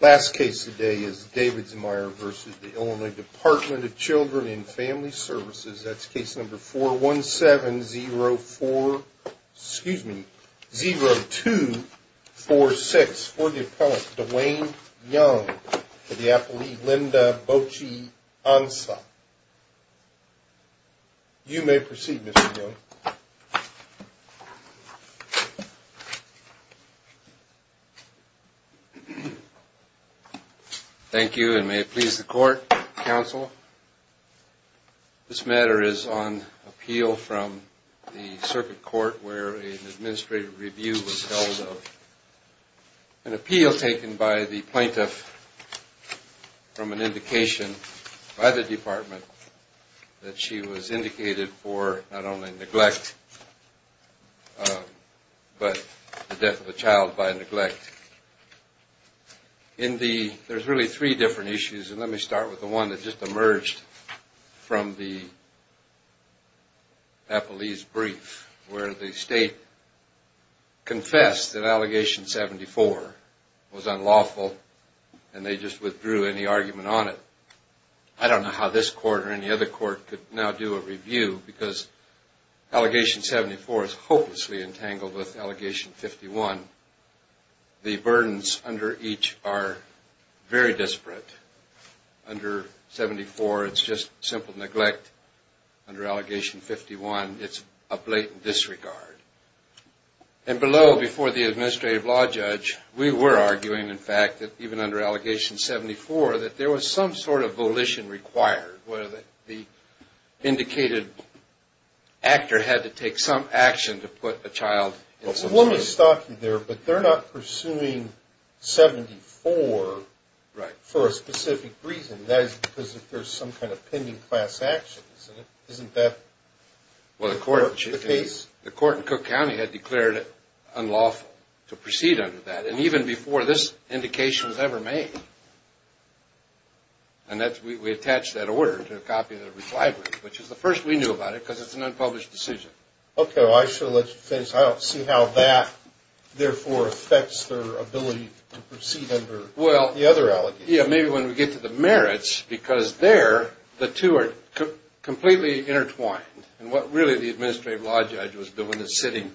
Last case today is Davidsmeyer v. Illinois Department of Children & Family Services. That's case number 417-0246 for the appellant Dwayne Young for the appellee Linda Bochy-Ansah. You may proceed Mr. Young. Thank you and may it please the court, counsel. This matter is on appeal from the circuit court where an administrative review was held of an appeal taken by the plaintiff from an indication by the department that she was indicated for not only negotiating, but also negotiating. There's really three different issues and let me start with the one that just emerged from the appellee's brief where the state confessed that allegation 74 was unlawful and they just withdrew any argument on it. I don't know how this court or any other court could now do a review because allegation 74 is hopelessly entangled with allegation 51. The burdens under each are very disparate. Under 74 it's just simple neglect. Under allegation 51 it's a blatant disregard. And below before the administrative law judge we were arguing in fact that even under allegation 74 that there was some sort of volition required where the indicated actor had to take some action to put a child in some state. Well the court in Cook County had declared it unlawful to proceed under that and even before this indication was ever made. And we attached that order to a copy of the reply brief which is the first we knew about it because it's an unpublished decision. Okay well I should have let you finish. I don't see how that therefore affects their ability to proceed under the other allegations. Yeah maybe when we get to the merits because there the two are completely intertwined and what really the administrative law judge was doing was sitting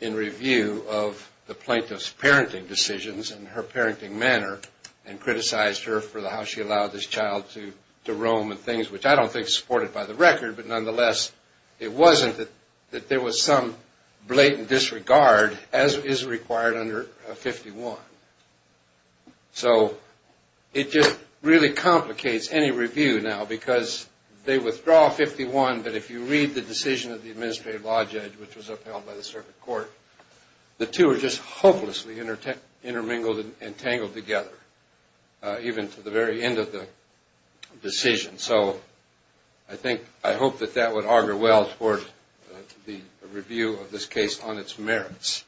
in review of the plaintiff's parenting decisions and her parenting manner and criticized her for how she allowed this child to roam and things which I don't think is supported by the record but nonetheless it wasn't that there was some blatant disregard as is required under 51. So it just really complicates any review now because they withdraw 51 but if you read the decision of the administrative law judge which was upheld by the circuit court the two are just hopelessly intermingled and tangled together even to the very end of the decision. And so I think I hope that that would augur well for the review of this case on its merits.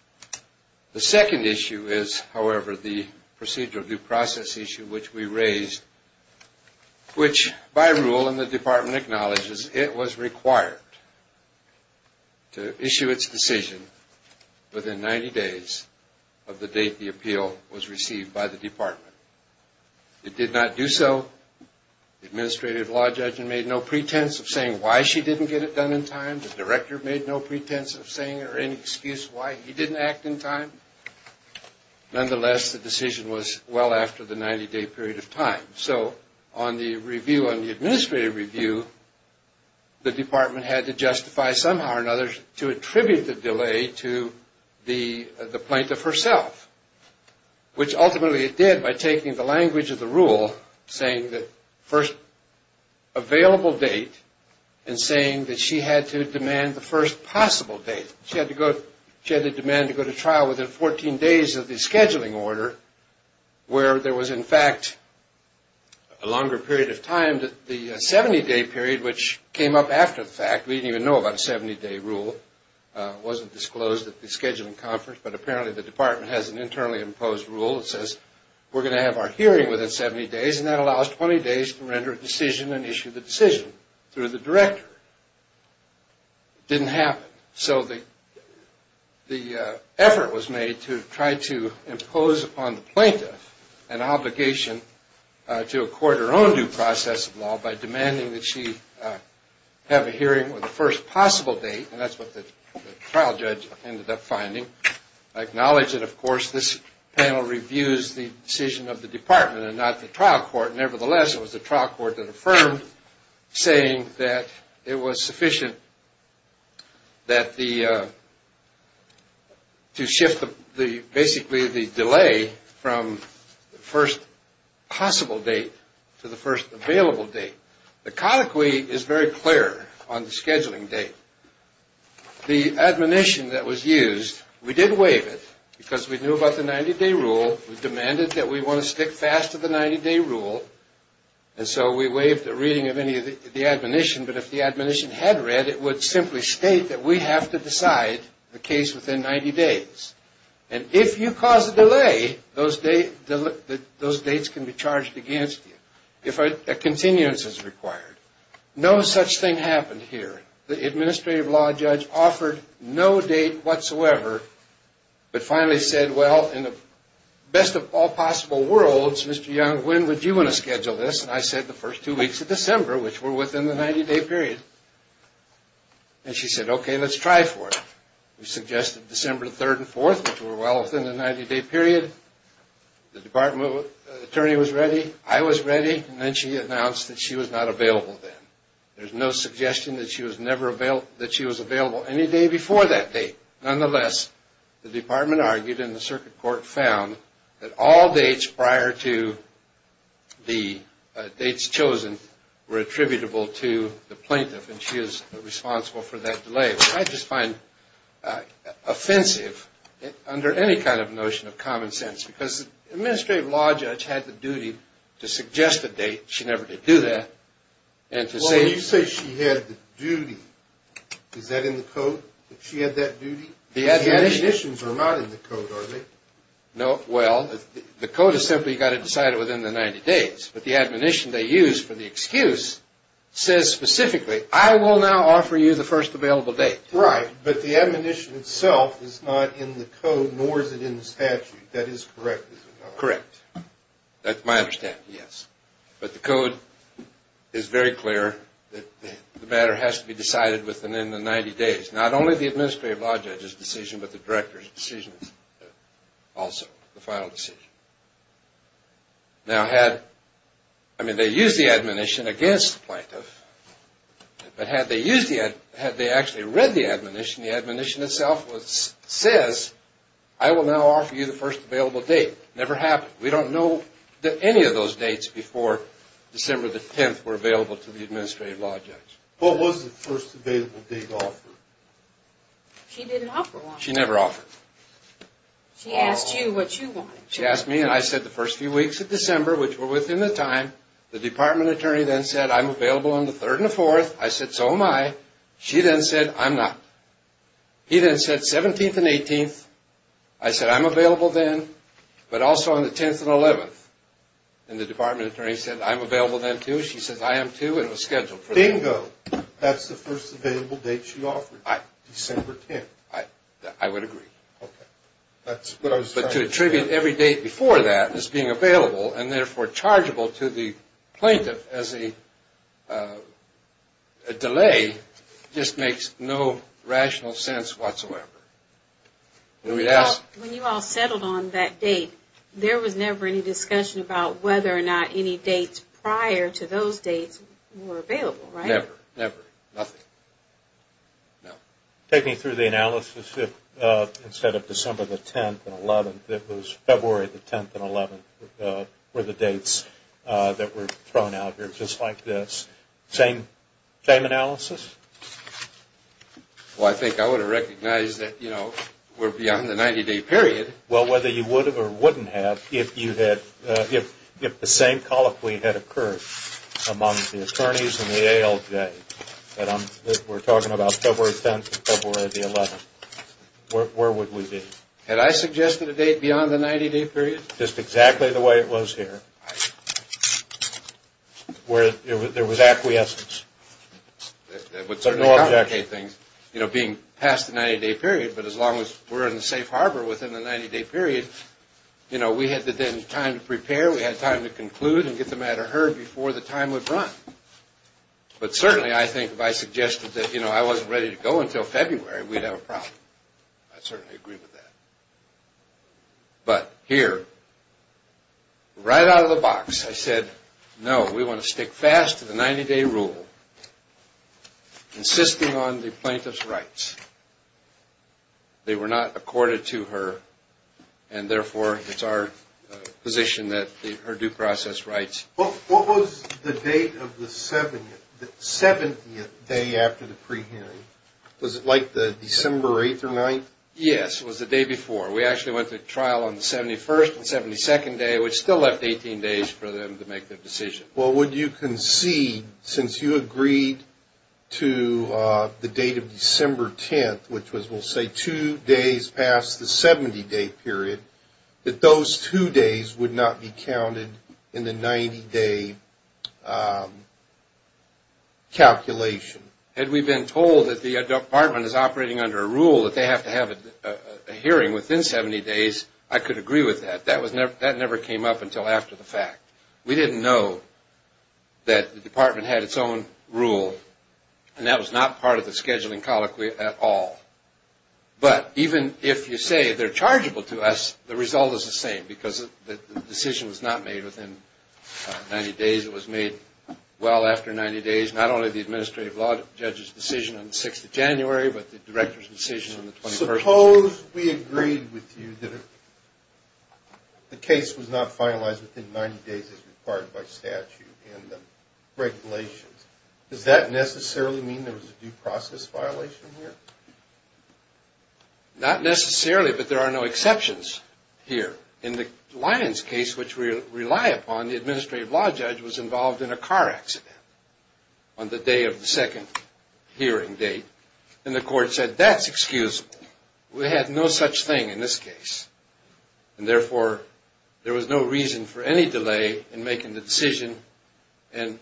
The second issue is however the procedural due process issue which we raised which by rule and the department acknowledges it was required to issue its decision within 90 days of the date the appeal was received by the department. It did not do so. The administrative law judge made no pretense of saying why she didn't get it done in time. The director made no pretense of saying or any excuse why he didn't act in time. Nonetheless the decision was well after the 90 day period of time. So on the review on the administrative review the department had to justify somehow or another to attribute the delay to the plaintiff herself which ultimately it did by taking the language of the rule saying that first available date and saying that she had to demand the first possible date. She had to demand to go to trial within 14 days of the scheduling order where there was in fact a longer period of time that the 70 day period which came up after the fact. We didn't even know about a 70 day rule. It wasn't disclosed at the scheduling conference but apparently the department has an internally imposed rule that says we're going to have our hearing within 70 days and that allows 20 days to render a decision and issue the decision through the director. It didn't happen. So the effort was made to try to impose upon the plaintiff an obligation to accord her own due process of law by demanding that she have a hearing with the first possible date and that's what the trial judge ended up finding. I acknowledge that of course this panel reviews the decision of the department and not the trial court. Nevertheless it was the trial court that affirmed saying that it was sufficient to shift basically the delay from the first possible date to the first available date. The catechy is very clear on the scheduling date. The admonition that was used, we did waive it because we knew about the 90 day rule. We demanded that we want to stick fast to the 90 day rule and so we waived the reading of any of the admonition but if the admonition had read it would simply state that we have to decide the case within 90 days and if you cause a delay those dates can be charged against you. If a continuance is required. No such thing happened here. The administrative law judge offered no date whatsoever but finally said well in the best of all possible worlds Mr. Young when would you want to schedule this and I said the first two weeks of December which were within the 90 day period and she said okay let's try for it. We suggested December 3rd and 4th which were well within the 90 day period. The department attorney was ready. I was ready and then she announced that she was not available then. There's no suggestion that she was available any day before that date. Nonetheless the department argued and the circuit court found that all dates prior to the dates chosen were attributable to the plaintiff and she is responsible for that delay. Which I just find offensive under any kind of notion of common sense because the administrative law judge had the duty to suggest a date. She never did do that. Well when you say she had the duty is that in the code that she had that duty? The admonitions are not in the code are they? No well the code has simply got to decide it within the 90 days but the admonition they used for the excuse says specifically I will now offer you the first available date. Right but the admonition itself is not in the code nor is it in the statute. That is correct is it not? Correct. That's my understanding yes. But the code is very clear that the matter has to be decided within the 90 days. Not only the administrative law judge's decision but the director's decision also, the final decision. Now had, I mean they used the admonition against the plaintiff but had they used the, had they actually read the admonition, the admonition itself says I will now offer you the first available date. Never happened. We don't know that any of those dates before December the 10th were available to the administrative law judge. What was the first available date offered? She didn't offer one. She never offered. She asked you what you wanted. She asked me and I said the first few weeks of December which were within the time, the department attorney then said I'm available on the 3rd and the 4th. I said so am I. She then said I'm not. He then said 17th and 18th. I said I'm available then but also on the 10th and 11th. And the department attorney said I'm available then too. She says I am too and it was scheduled for the day. Bingo. That's the first available date she offered you, December 10th. I would agree. But to attribute every date before that as being available and therefore chargeable to the plaintiff as a delay just makes no rational sense whatsoever. When you all settled on that date, there was never any discussion about whether or not any dates prior to those dates were available, right? Never, never, nothing. Take me through the analysis instead of December the 10th and 11th. It was February the 10th and 11th were the dates that were thrown out here just like this. Same analysis? Well, I think I would have recognized that, you know, we're beyond the 90-day period. Well, whether you would have or wouldn't have if the same colloquy had occurred among the attorneys and the ALJ. But we're talking about February 10th and February the 11th. Where would we be? Had I suggested a date beyond the 90-day period? Just exactly the way it was here where there was acquiescence. That would certainly complicate things, you know, being past the 90-day period. But as long as we're in the safe harbor within the 90-day period, you know, we had then time to prepare. We had time to conclude and get the matter heard before the time would run. But certainly I think if I suggested that, you know, I wasn't ready to go until February, we'd have a problem. I certainly agree with that. But here, right out of the box, I said, no, we want to stick fast to the 90-day rule, insisting on the plaintiff's rights. They were not accorded to her, and therefore it's our position that her due process rights. What was the date of the 70th day after the pre-hearing? Was it like the December 8th or 9th? Yes, it was the day before. We actually went to trial on the 71st and 72nd day, which still left 18 days for them to make their decision. Well, would you concede, since you agreed to the date of December 10th, which was, we'll say, two days past the 70-day period, that those two days would not be counted in the 90-day calculation? Had we been told that the department is operating under a rule that they have to have a hearing within 70 days, I could agree with that. That never came up until after the fact. We didn't know that the department had its own rule, and that was not part of the scheduling colloquy at all. But even if you say they're chargeable to us, the result is the same, because the decision was not made within 90 days. It was made well after 90 days, not only the administrative law judge's decision on the 6th of January, but the director's decision on the 21st. Suppose we agreed with you that the case was not finalized within 90 days as required by statute in the regulations. Does that necessarily mean there was a due process violation here? Not necessarily, but there are no exceptions here. In the Lyons case, which we rely upon, the administrative law judge was involved in a car accident on the day of the second hearing date. And the court said, that's excusable. We had no such thing in this case. And therefore, there was no reason for any delay in making the decision, and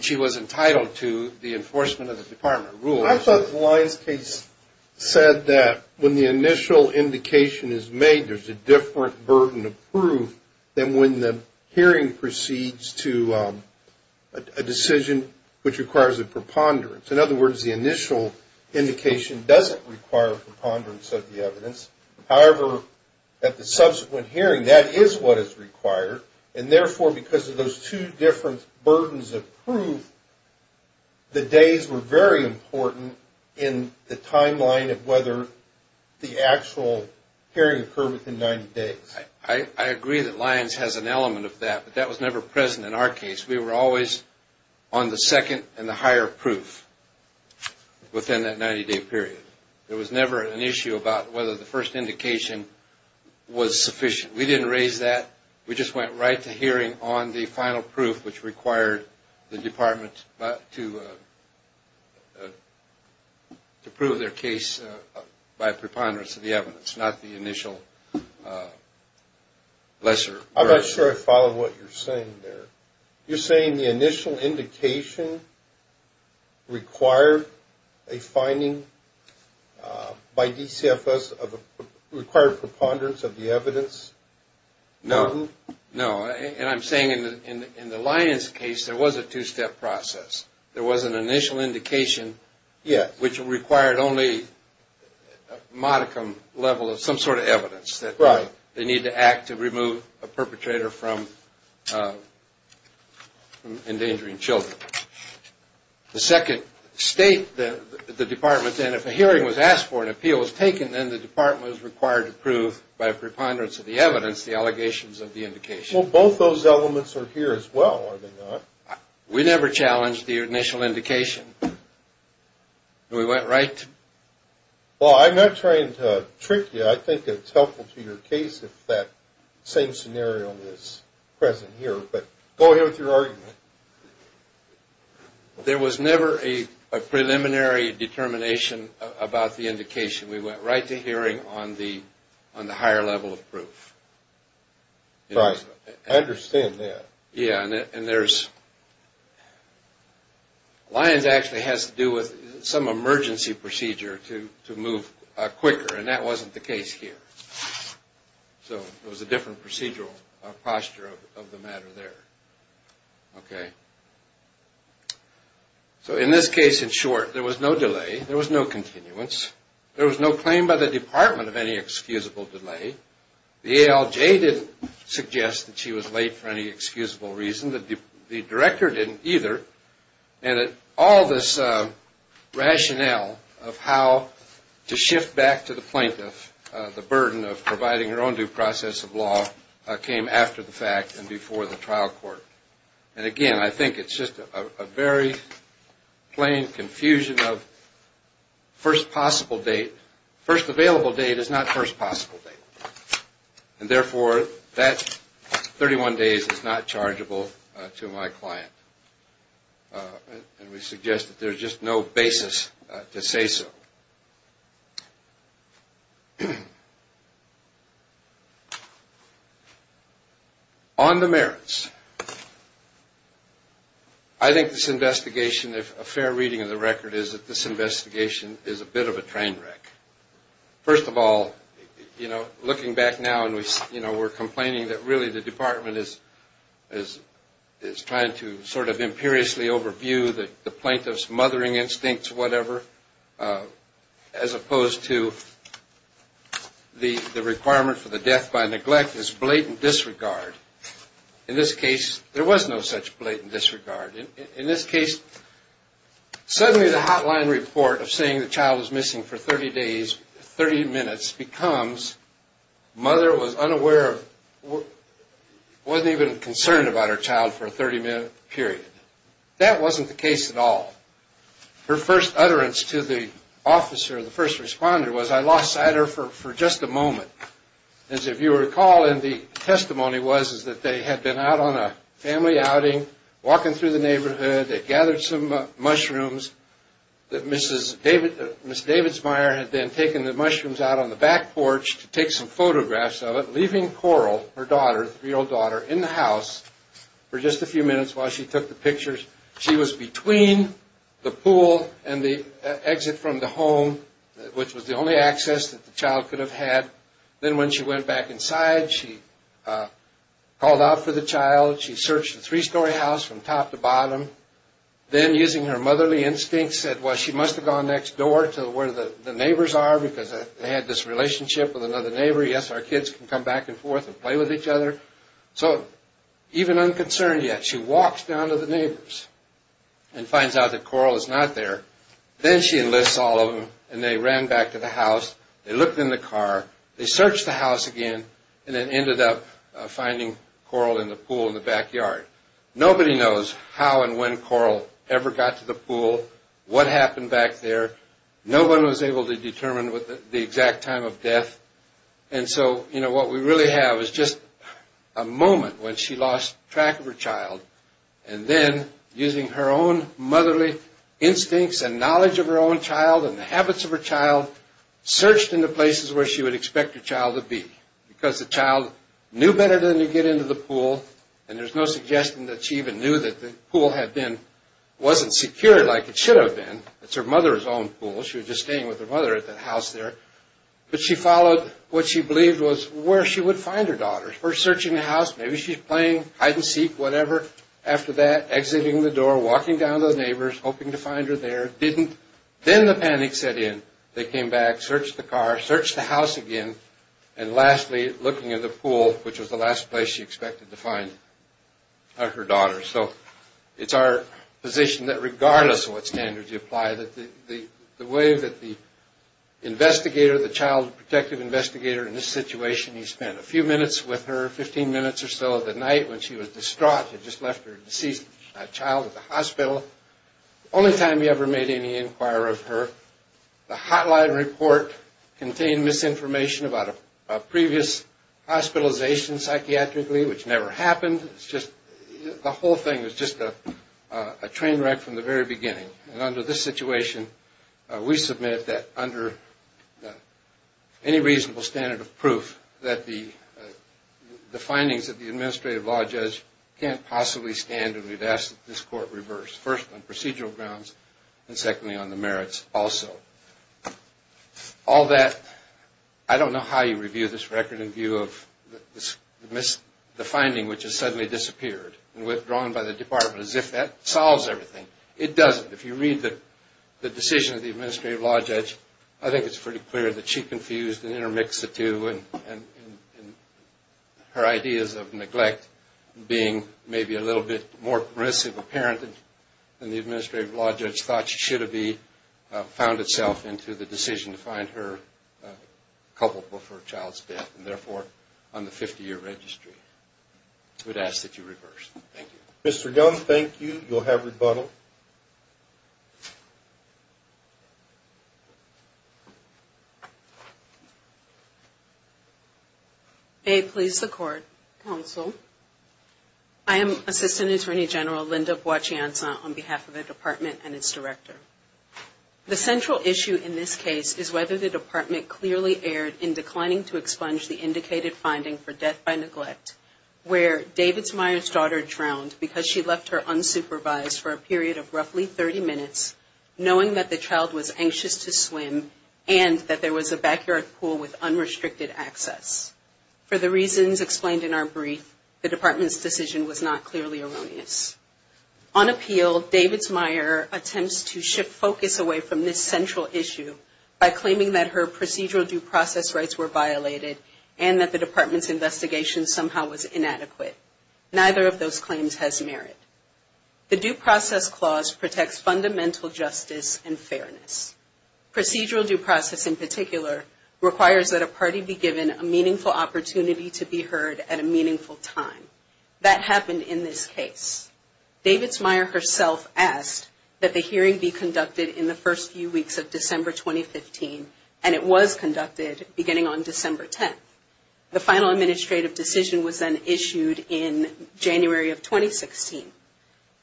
she was entitled to the enforcement of the department rules. I thought the Lyons case said that when the initial indication is made, there's a different burden of proof than when the hearing proceeds to a decision which requires a preponderance. In other words, the initial indication doesn't require a preponderance of the evidence. However, at the subsequent hearing, that is what is required. And therefore, because of those two different burdens of proof, the days were very important in the timeline of whether the actual hearing occurred within 90 days. I agree that Lyons has an element of that, but that was never present in our case. We were always on the second and the higher proof within that 90-day period. There was never an issue about whether the first indication was sufficient. We didn't raise that. We just went right to hearing on the final proof, which required the department to prove their case by preponderance of the evidence, not the initial lesser burden. I'm not sure I follow what you're saying there. You're saying the initial indication required a finding by DCFS of a required preponderance of the evidence? No. And I'm saying in the Lyons case, there was a two-step process. There was an initial indication, which required only a modicum level of some sort of evidence. Right. They need to act to remove a perpetrator from endangering children. The second state the department's in, if a hearing was asked for and an appeal was taken, then the department was required to prove by preponderance of the evidence the allegations of the indication. Well, both those elements are here as well, are they not? We never challenged the initial indication. We went right to it. Well, I'm not trying to trick you. I think it's helpful to your case if that same scenario is present here. But go ahead with your argument. There was never a preliminary determination about the indication. We went right to hearing on the higher level of proof. Right. I understand that. Yeah. Lyons actually has to do with some emergency procedure to move quicker. And that wasn't the case here. So it was a different procedural posture of the matter there. Okay. So in this case, in short, there was no delay. There was no continuance. There was no claim by the department of any excusable delay. The ALJ didn't suggest that she was late for any excusable reason. The director didn't either. And all this rationale of how to shift back to the plaintiff, the burden of providing her own due process of law, came after the fact and before the trial court. And, again, I think it's just a very plain confusion of first possible date. First available date is not first possible date. And, therefore, that 31 days is not chargeable to my client. And we suggest that there's just no basis to say so. On the merits. I think this investigation, if a fair reading of the record, is that this investigation is a bit of a train wreck. First of all, you know, looking back now and, you know, we're complaining that, really, the department is trying to sort of imperiously overview the plaintiff's mothering instincts, whatever, as opposed to the requirement for the death by neglect is blatant disregard. In this case, there was no such blatant disregard. In this case, suddenly the hotline report of saying the child was missing for 30 days, 30 minutes, becomes mother was unaware of, wasn't even concerned about her child for a 30-minute period. That wasn't the case at all. Her first utterance to the officer, the first responder, was, I lost sight of her for just a moment. As if you recall, and the testimony was, is that they had been out on a family outing, walking through the neighborhood. They gathered some mushrooms. Mrs. Davidsmeyer had then taken the mushrooms out on the back porch to take some photographs of it, leaving Coral, her daughter, 3-year-old daughter, in the house for just a few minutes while she took the pictures. She was between the pool and the exit from the home, which was the only access that the child could have had. Then when she went back inside, she called out for the child. She searched the three-story house from top to bottom. Then, using her motherly instincts, said, well, she must have gone next door to where the neighbors are because they had this relationship with another neighbor. Yes, our kids can come back and forth and play with each other. So, even unconcerned yet, she walks down to the neighbors and finds out that Coral is not there. Then she enlists all of them, and they ran back to the house. They looked in the car. They searched the house again and then ended up finding Coral in the pool in the backyard. Nobody knows how and when Coral ever got to the pool, what happened back there. What we really have is just a moment when she lost track of her child. Then, using her own motherly instincts and knowledge of her own child and the habits of her child, searched into places where she would expect her child to be because the child knew better than to get into the pool. There's no suggestion that she even knew that the pool wasn't secured like it should have been. It's her mother's own pool. She was just staying with her mother at the house there. But she followed what she believed was where she would find her daughter. First, searching the house. Maybe she's playing hide-and-seek, whatever. After that, exiting the door, walking down to the neighbors, hoping to find her there. Didn't. Then the panic set in. They came back, searched the car, searched the house again, and lastly, looking at the pool, which was the last place she expected to find her daughter. So it's our position that regardless of what standards you apply, the way that the investigator, the child protective investigator in this situation, he spent a few minutes with her, 15 minutes or so of the night when she was distraught. He just left her deceased child at the hospital. The only time he ever made any inquiry of her. The hotline report contained misinformation about a previous hospitalization psychiatrically, which never happened. The whole thing is just a train wreck from the very beginning. Under this situation, we submit that under any reasonable standard of proof, that the findings of the administrative law judge can't possibly stand and we've asked that this court reverse, first on procedural grounds, and secondly on the merits also. All that, I don't know how you review this record in view of the finding, which has suddenly disappeared and withdrawn by the department as if that solves everything. It doesn't. If you read the decision of the administrative law judge, I think it's pretty clear that she confused and intermixed the two and her ideas of neglect being maybe a little bit more aggressive, apparent than the administrative law judge thought she should be, found itself into the decision to find her culpable for her child's death and therefore on the 50-year registry. We'd ask that you reverse. Thank you. Mr. Young, thank you. You'll have rebuttal. May it please the court, counsel. I am Assistant Attorney General Linda Boachianza on behalf of the department and its director. The central issue in this case is whether the department clearly erred in declining to expunge the indicated finding for death by neglect, where David's Meyer's daughter drowned because she left her unsupervised for a period of roughly 30 minutes, knowing that the child was anxious to swim and that there was a backyard pool with unrestricted access. For the reasons explained in our brief, the department's decision was not clearly erroneous. On appeal, David's Meyer attempts to shift focus away from this central issue by claiming that her procedural due process rights were violated and that the department's investigation somehow was inadequate. Neither of those claims has merit. The due process clause protects fundamental justice and fairness. Procedural due process in particular requires that a party be given a meaningful opportunity to be heard at a meaningful time. That happened in this case. David's Meyer herself asked that the hearing be conducted in the first few weeks of December 2015, and it was conducted beginning on December 10th. The final administrative decision was then issued in January of 2016.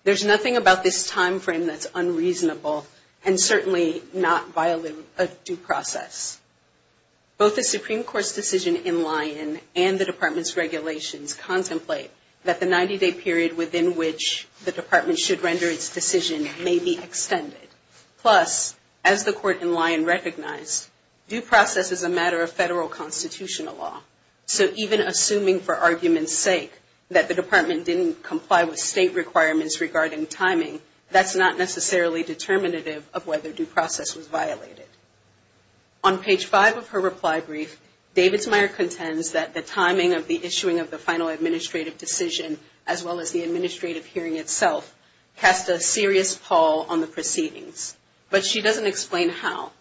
There's nothing about this time frame that's unreasonable and certainly not violating a due process. Both the Supreme Court's decision in Lyon and the department's regulations contemplate that the 90-day period within which the department should render its decision may be extended. Plus, as the court in Lyon recognized, due process is a matter of federal constitutional law. So even assuming for argument's sake that the department didn't comply with state requirements regarding timing, that's not necessarily determinative of whether due process was violated. On page 5 of her reply brief, David's Meyer contends that the timing of the issuing of the final administrative decision, as well as the administrative hearing itself, cast a serious pall on the proceedings. But she doesn't explain how.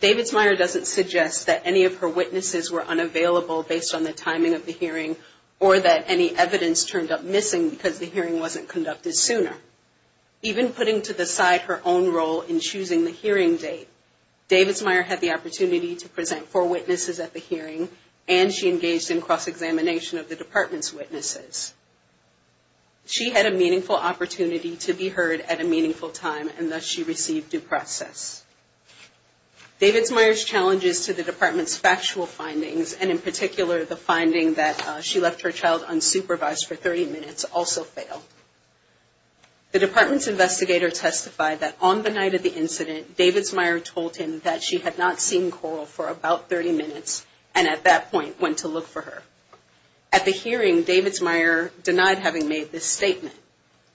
David's Meyer doesn't suggest that any of her witnesses were unavailable based on the timing of the hearing or that any evidence turned up missing because the hearing wasn't conducted sooner. Even putting to the side her own role in choosing the hearing date, David's Meyer had the opportunity to present four witnesses at the hearing, and she engaged in cross-examination of the department's witnesses. She had a meaningful opportunity to be heard at a meaningful time, and thus she received due process. David's Meyer's challenges to the department's factual findings, and in particular the finding that she left her child unsupervised for 30 minutes, also fail. The department's investigator testified that on the night of the incident, David's Meyer told him that she had not seen Coral for about 30 minutes and at that point went to look for her. At the hearing, David's Meyer denied having made this statement.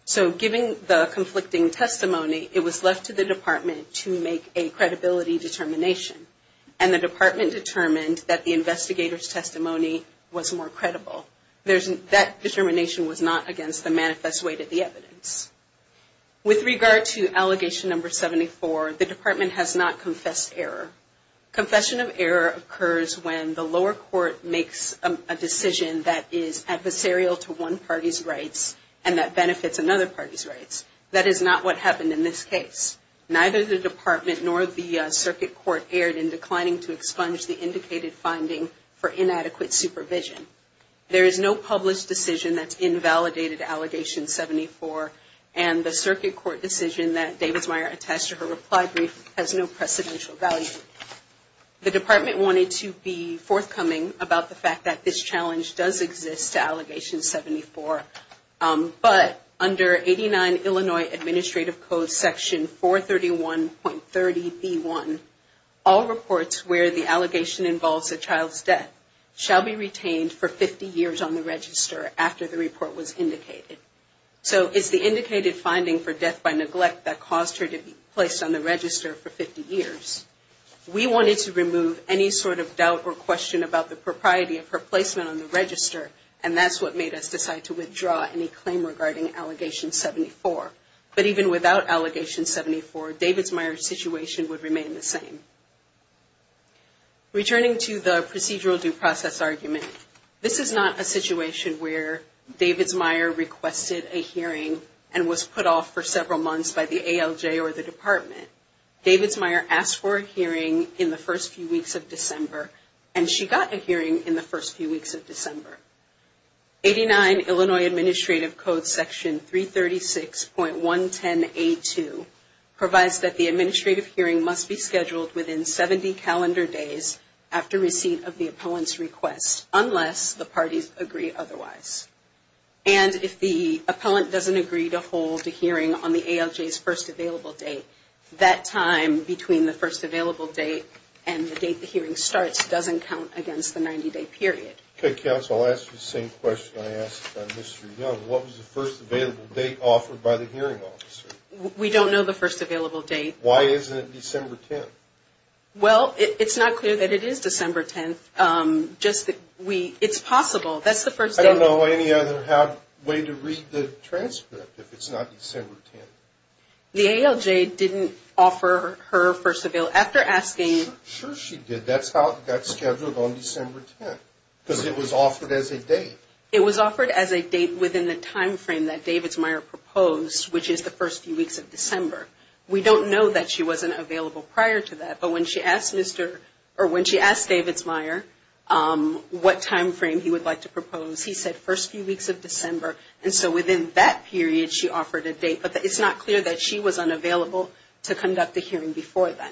So given the conflicting testimony, it was left to the department to make a credibility determination, and the department determined that the investigator's testimony was more credible. That determination was not against the manifest way to the evidence. With regard to allegation number 74, the department has not confessed error. Confession of error occurs when the lower court makes a decision that is adversarial to one party's rights and that benefits another party's rights. That is not what happened in this case. Neither the department nor the circuit court erred in declining to expunge the indicated finding for inadequate supervision. There is no published decision that's invalidated allegation 74, and the circuit court decision that David's Meyer attached to her reply brief has no precedential value. The department wanted to be forthcoming about the fact that this challenge does exist to allegation 74, but under 89 Illinois Administrative Code section 431.30b1, all reports where the allegation involves a child's death shall be retained for 50 years on the register after the report was indicated. So it's the indicated finding for death by neglect that caused her to be placed on the register for 50 years. We wanted to remove any sort of doubt or question about the propriety of her placement on the register, and that's what made us decide to withdraw any claim regarding allegation 74. But even without allegation 74, David's Meyer's situation would remain the same. Returning to the procedural due process argument, this is not a situation where David's Meyer requested a hearing and was put off for several months by the ALJ or the department. David's Meyer asked for a hearing in the first few weeks of December, and she got a hearing in the first few weeks of December. 89 Illinois Administrative Code section 336.110a2 provides that the administrative hearing must be scheduled within 70 calendar days after receipt of the appellant's request, unless the parties agree otherwise. And if the appellant doesn't agree to hold a hearing on the ALJ's first available date, that time between the first available date and the date the hearing starts doesn't count against the 90-day period. Okay, counsel, I'll ask you the same question I asked Mr. Young. What was the first available date offered by the hearing officer? We don't know the first available date. Why isn't it December 10th? Well, it's not clear that it is December 10th. It's possible. I don't know any other way to read the transcript if it's not December 10th. The ALJ didn't offer her first available date. Sure she did. That's how it got scheduled on December 10th, because it was offered as a date. It was offered as a date within the time frame that David's Meyer proposed, which is the first few weeks of December. We don't know that she wasn't available prior to that. But when she asked David's Meyer what time frame he would like to propose, he said first few weeks of December. And so within that period, she offered a date. But it's not clear that she was unavailable to conduct the hearing before then.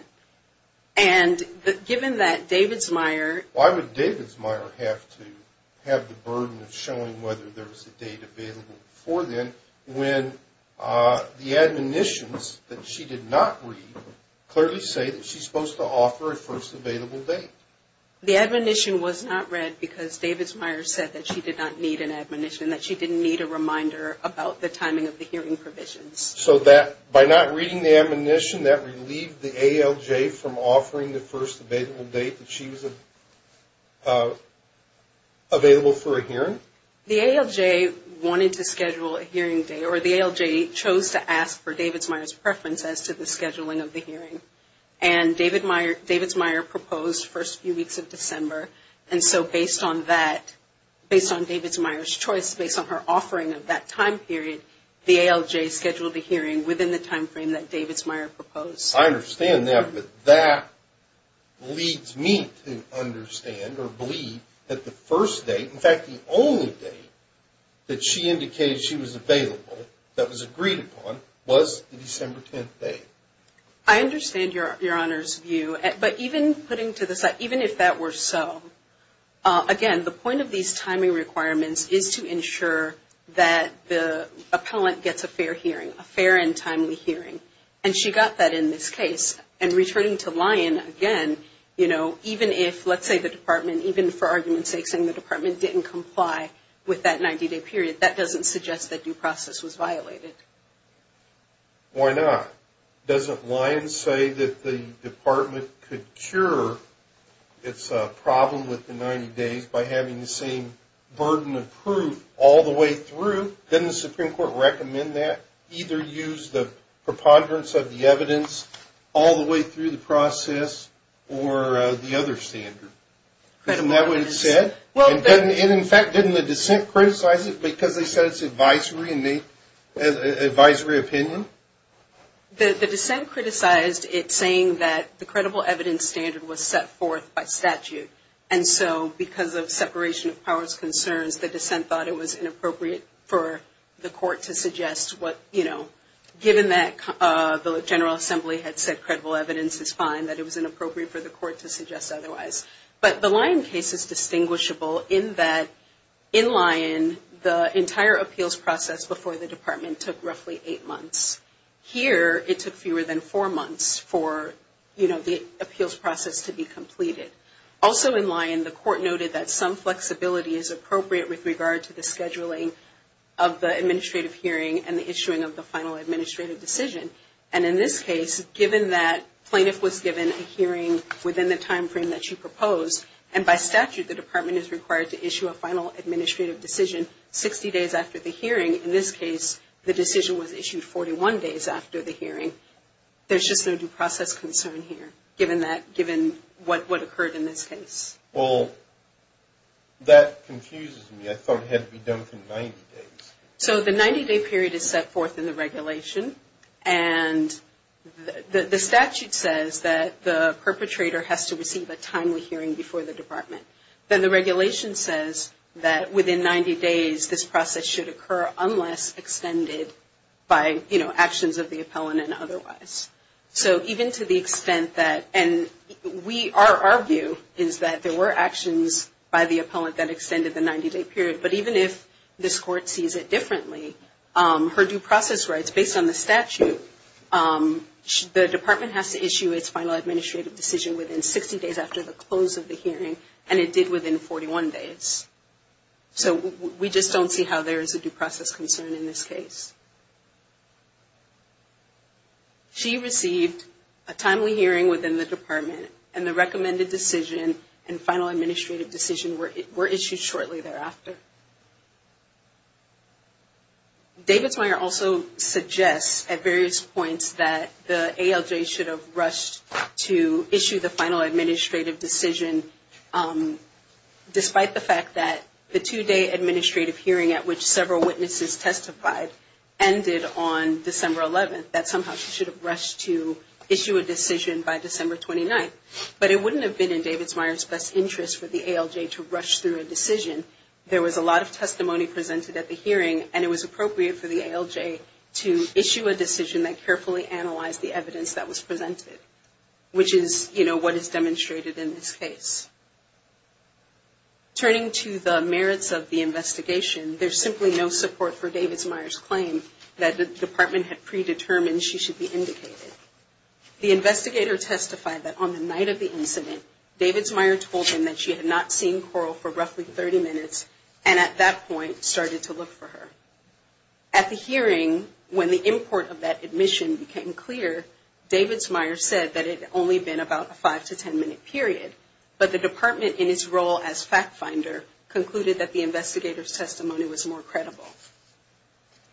And given that David's Meyer… Why would David's Meyer have to have the burden of showing whether there was a date available before then when the admonitions that she did not read clearly say that she's supposed to offer a first available date? The admonition was not read because David's Meyer said that she did not need an admonition, that she didn't need a reminder about the timing of the hearing provisions. So by not reading the admonition, that relieved the ALJ from offering the first available date that she was available for a hearing? The ALJ wanted to schedule a hearing day, or the ALJ chose to ask for David's Meyer's preference as to the scheduling of the hearing. And David's Meyer proposed first few weeks of December. And so based on that, based on David's Meyer's choice, based on her offering of that time period, the ALJ scheduled a hearing within the time frame that David's Meyer proposed. I understand that, but that leads me to understand or believe that the first date, in fact, the only date that she indicated she was available, that was agreed upon, was the December 10th date. I understand Your Honor's view, but even putting to the side, even if that were so, again, the point of these timing requirements is to ensure that the appellant gets a fair hearing, a fair and timely hearing. And she got that in this case. And returning to Lyon, again, you know, even if, let's say the department, even for argument's sake, saying the department didn't comply with that 90-day period, that doesn't suggest that due process was violated. Why not? Doesn't Lyon say that the department could cure its problem with the 90 days by having the same burden of proof all the way through? Doesn't the Supreme Court recommend that? Either use the preponderance of the evidence all the way through the process or the other standard? Isn't that what it said? And in fact, didn't the dissent criticize it because they said it's advisory opinion? The dissent criticized it saying that the credible evidence standard was set forth by statute. And so because of separation of powers concerns, the dissent thought it was inappropriate for the court to suggest what, you know, given that the General Assembly had said credible evidence is fine, that it was inappropriate for the court to suggest otherwise. But the Lyon case is distinguishable in that in Lyon, the entire appeals process before the department took roughly eight months. Here, it took fewer than four months for, you know, the appeals process to be completed. Also in Lyon, the court noted that some flexibility is appropriate with regard to the scheduling of the administrative hearing and the issuing of the final administrative decision. And in this case, given that plaintiff was given a hearing within the timeframe that she proposed, and by statute the department is required to issue a final administrative decision 60 days after the hearing, in this case the decision was issued 41 days after the hearing, there's just no due process concern here, given what occurred in this case. Well, that confuses me. I thought it had to be done for 90 days. So the 90-day period is set forth in the regulation. And the statute says that the perpetrator has to receive a timely hearing before the department. Then the regulation says that within 90 days this process should occur unless extended by, you know, actions of the appellant and otherwise. So even to the extent that, and our view is that there were actions by the appellant that extended the 90-day period, but even if this court sees it differently, her due process rights, based on the statute, the department has to issue its final administrative decision within 60 days after the close of the hearing, and it did within 41 days. So we just don't see how there is a due process concern in this case. She received a timely hearing within the department, and the recommended decision and final administrative decision were issued shortly thereafter. David's Meyer also suggests at various points that the ALJ should have rushed to issue the final administrative decision, despite the fact that the two-day administrative hearing at which several witnesses testified ended on December 11th, that somehow she should have rushed to issue a decision by December 29th. But it wouldn't have been in David's Meyer's best interest for the ALJ to rush through a decision. There was a lot of testimony presented at the hearing, and it was appropriate for the ALJ to issue a decision that carefully analyzed the evidence that was presented, which is what is demonstrated in this case. Turning to the merits of the investigation, there's simply no support for David's Meyer's claim that the department had predetermined she should be indicated. The investigator testified that on the night of the incident, David's Meyer told him that she had not seen Coral for roughly 30 minutes, and at that point started to look for her. At the hearing, when the import of that admission became clear, David's Meyer said that it had only been about a 5-10 minute period, but the department, in its role as fact finder, concluded that the investigator's testimony was more credible.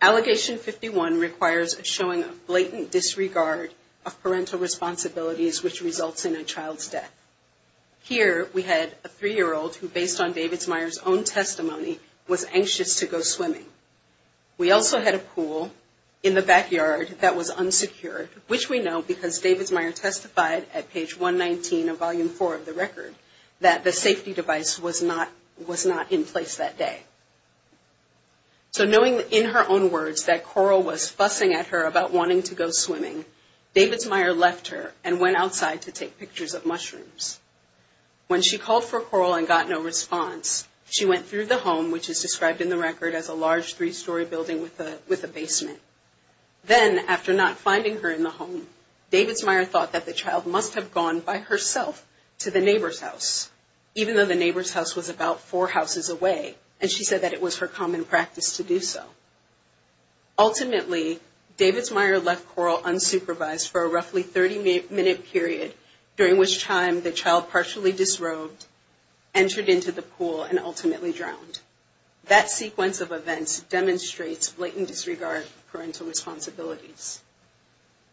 Allegation 51 requires a showing of blatant disregard of parental responsibilities, which results in a child's death. Here, we had a 3-year-old who, based on David's Meyer's own testimony, was anxious to go swimming. We also had a pool in the backyard that was unsecured, which we know because David's Meyer testified at page 119 of volume 4 of the record, that the safety device was not in place that day. So knowing in her own words that Coral was fussing at her about wanting to go swimming, David's Meyer left her and went outside to take pictures of mushrooms. When she called for Coral and got no response, she went through the home, which is described in the record as a large three-story building with a basement. Then, after not finding her in the home, David's Meyer thought that the child must have gone by herself to the neighbor's house, even though the neighbor's house was about four houses away, and she said that it was her common practice to do so. Ultimately, David's Meyer left Coral unsupervised for a roughly 30-minute period, during which time the child partially disrobed, entered into the pool, and ultimately drowned. That sequence of events demonstrates blatant disregard of parental responsibilities.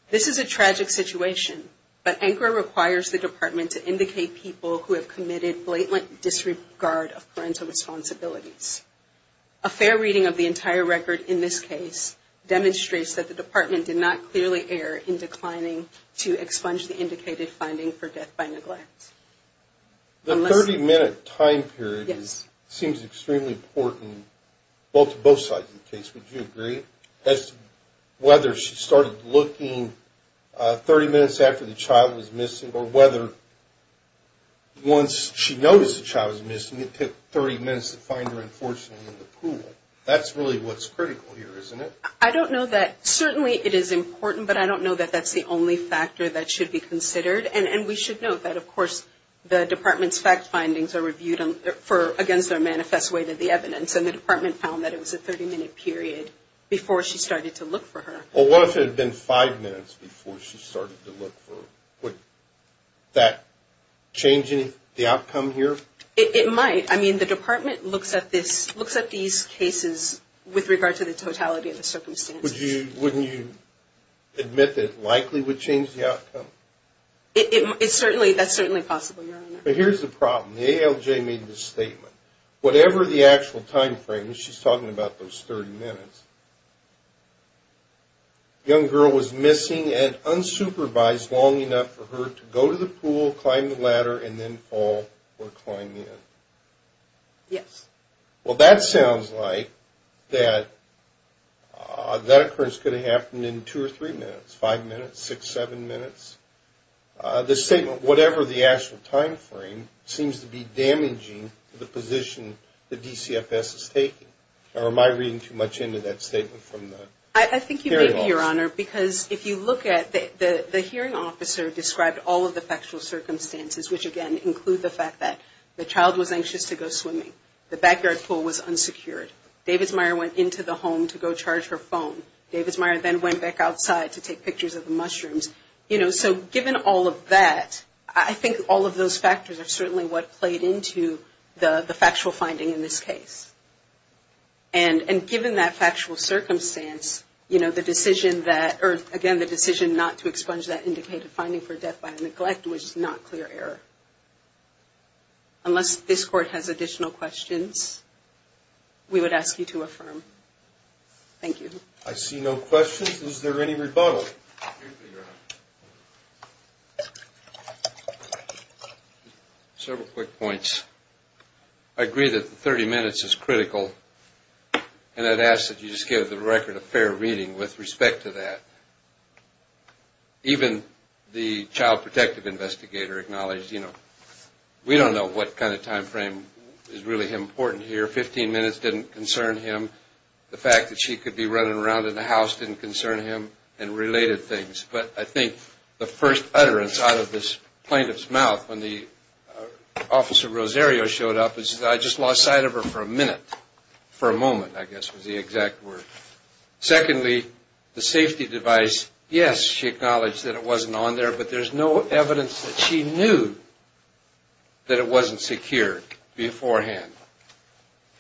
This is a tragic situation, but ANCRA requires the department to indicate people who have committed blatant disregard of parental responsibilities. A fair reading of the entire record in this case demonstrates that the department did not clearly err in declining to expunge the indicated finding for death by neglect. The 30-minute time period seems extremely important to both sides of the case, would you agree? As to whether she started looking 30 minutes after the child was missing, or whether once she noticed the child was missing, it took 30 minutes to find her, unfortunately, in the pool. That's really what's critical here, isn't it? I don't know that, certainly it is important, but I don't know that that's the only factor that should be considered, and we should note that, of course, the department's fact findings are reviewed against their manifest way to the evidence, and the department found that it was a 30-minute period before she started to look for her. Well, what if it had been five minutes before she started to look for her? Would that change the outcome here? It might. I mean, the department looks at these cases with regard to the totality of the circumstances. Wouldn't you admit that it likely would change the outcome? That's certainly possible, Your Honor. But here's the problem. The ALJ made this statement. Whatever the actual time frame, she's talking about those 30 minutes, the young girl was missing and unsupervised long enough for her to go to the pool, climb the ladder, and then fall or climb in. Yes. Well, that sounds like that that occurrence could have happened in two or three minutes, five minutes, six, seven minutes. The statement, whatever the actual time frame, seems to be damaging the position the DCFS is taking. Am I reading too much into that statement from the hearing officer? I think you may be, Your Honor, because if you look at it, the hearing officer described all of the factual circumstances, which, again, include the fact that the child was anxious to go swimming. The backyard pool was unsecured. David's Meyer went into the home to go charge her phone. David's Meyer then went back outside to take pictures of the mushrooms. You know, so given all of that, I think all of those factors are certainly what played into the factual finding in this case. And given that factual circumstance, you know, the decision that, or, again, the decision not to expunge that indicated finding for death by neglect was not clear error. Unless this Court has additional questions, we would ask you to affirm. Thank you. I see no questions. Is there any rebuttal? Several quick points. I agree that the 30 minutes is critical, and I'd ask that you just give the record a fair reading with respect to that. Even the child protective investigator acknowledged, you know, we don't know what kind of time frame is really important here. Fifteen minutes didn't concern him. The fact that she could be running around in the house didn't concern him and related things. But I think the first utterance out of this plaintiff's mouth when the officer Rosario showed up is, I just lost sight of her for a minute, for a moment, I guess, was the exact word. Secondly, the safety device, yes, she acknowledged that it wasn't on there, but there's no evidence that she knew that it wasn't secure beforehand.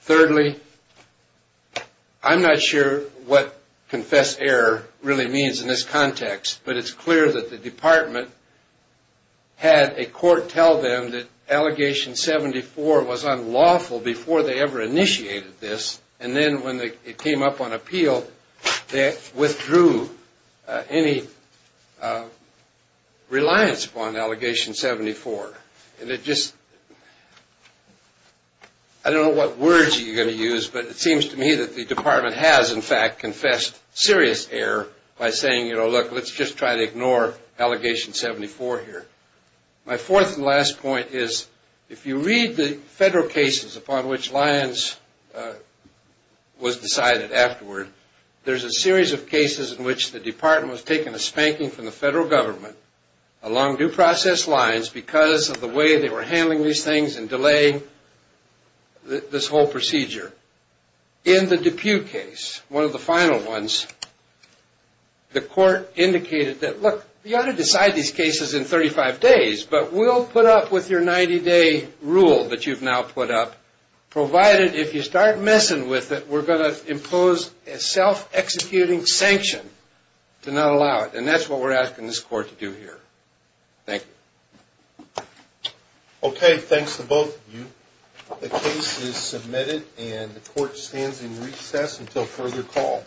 Thirdly, I'm not sure what confess error really means in this context, but it's clear that the department had a court tell them that Allegation 74 was unlawful before they ever initiated this, and then when it came up on appeal, they withdrew any reliance upon Allegation 74. And it just, I don't know what words you're going to use, but it seems to me that the department has, in fact, confessed serious error by saying, you know, look, let's just try to ignore Allegation 74 here. My fourth and last point is, if you read the federal cases upon which Lyons was decided afterward, there's a series of cases in which the department was taking a spanking from the federal government along due process lines because of the way they were handling these things and delaying this whole procedure. In the Depute case, one of the final ones, the court indicated that, look, you ought to decide these cases in 35 days, but we'll put up with your 90-day rule that you've now put up, provided if you start messing with it, we're going to impose a self-executing sanction to not allow it. And that's what we're asking this court to do here. Thank you. Okay, thanks to both of you. The case is submitted and the court stands in recess until further call.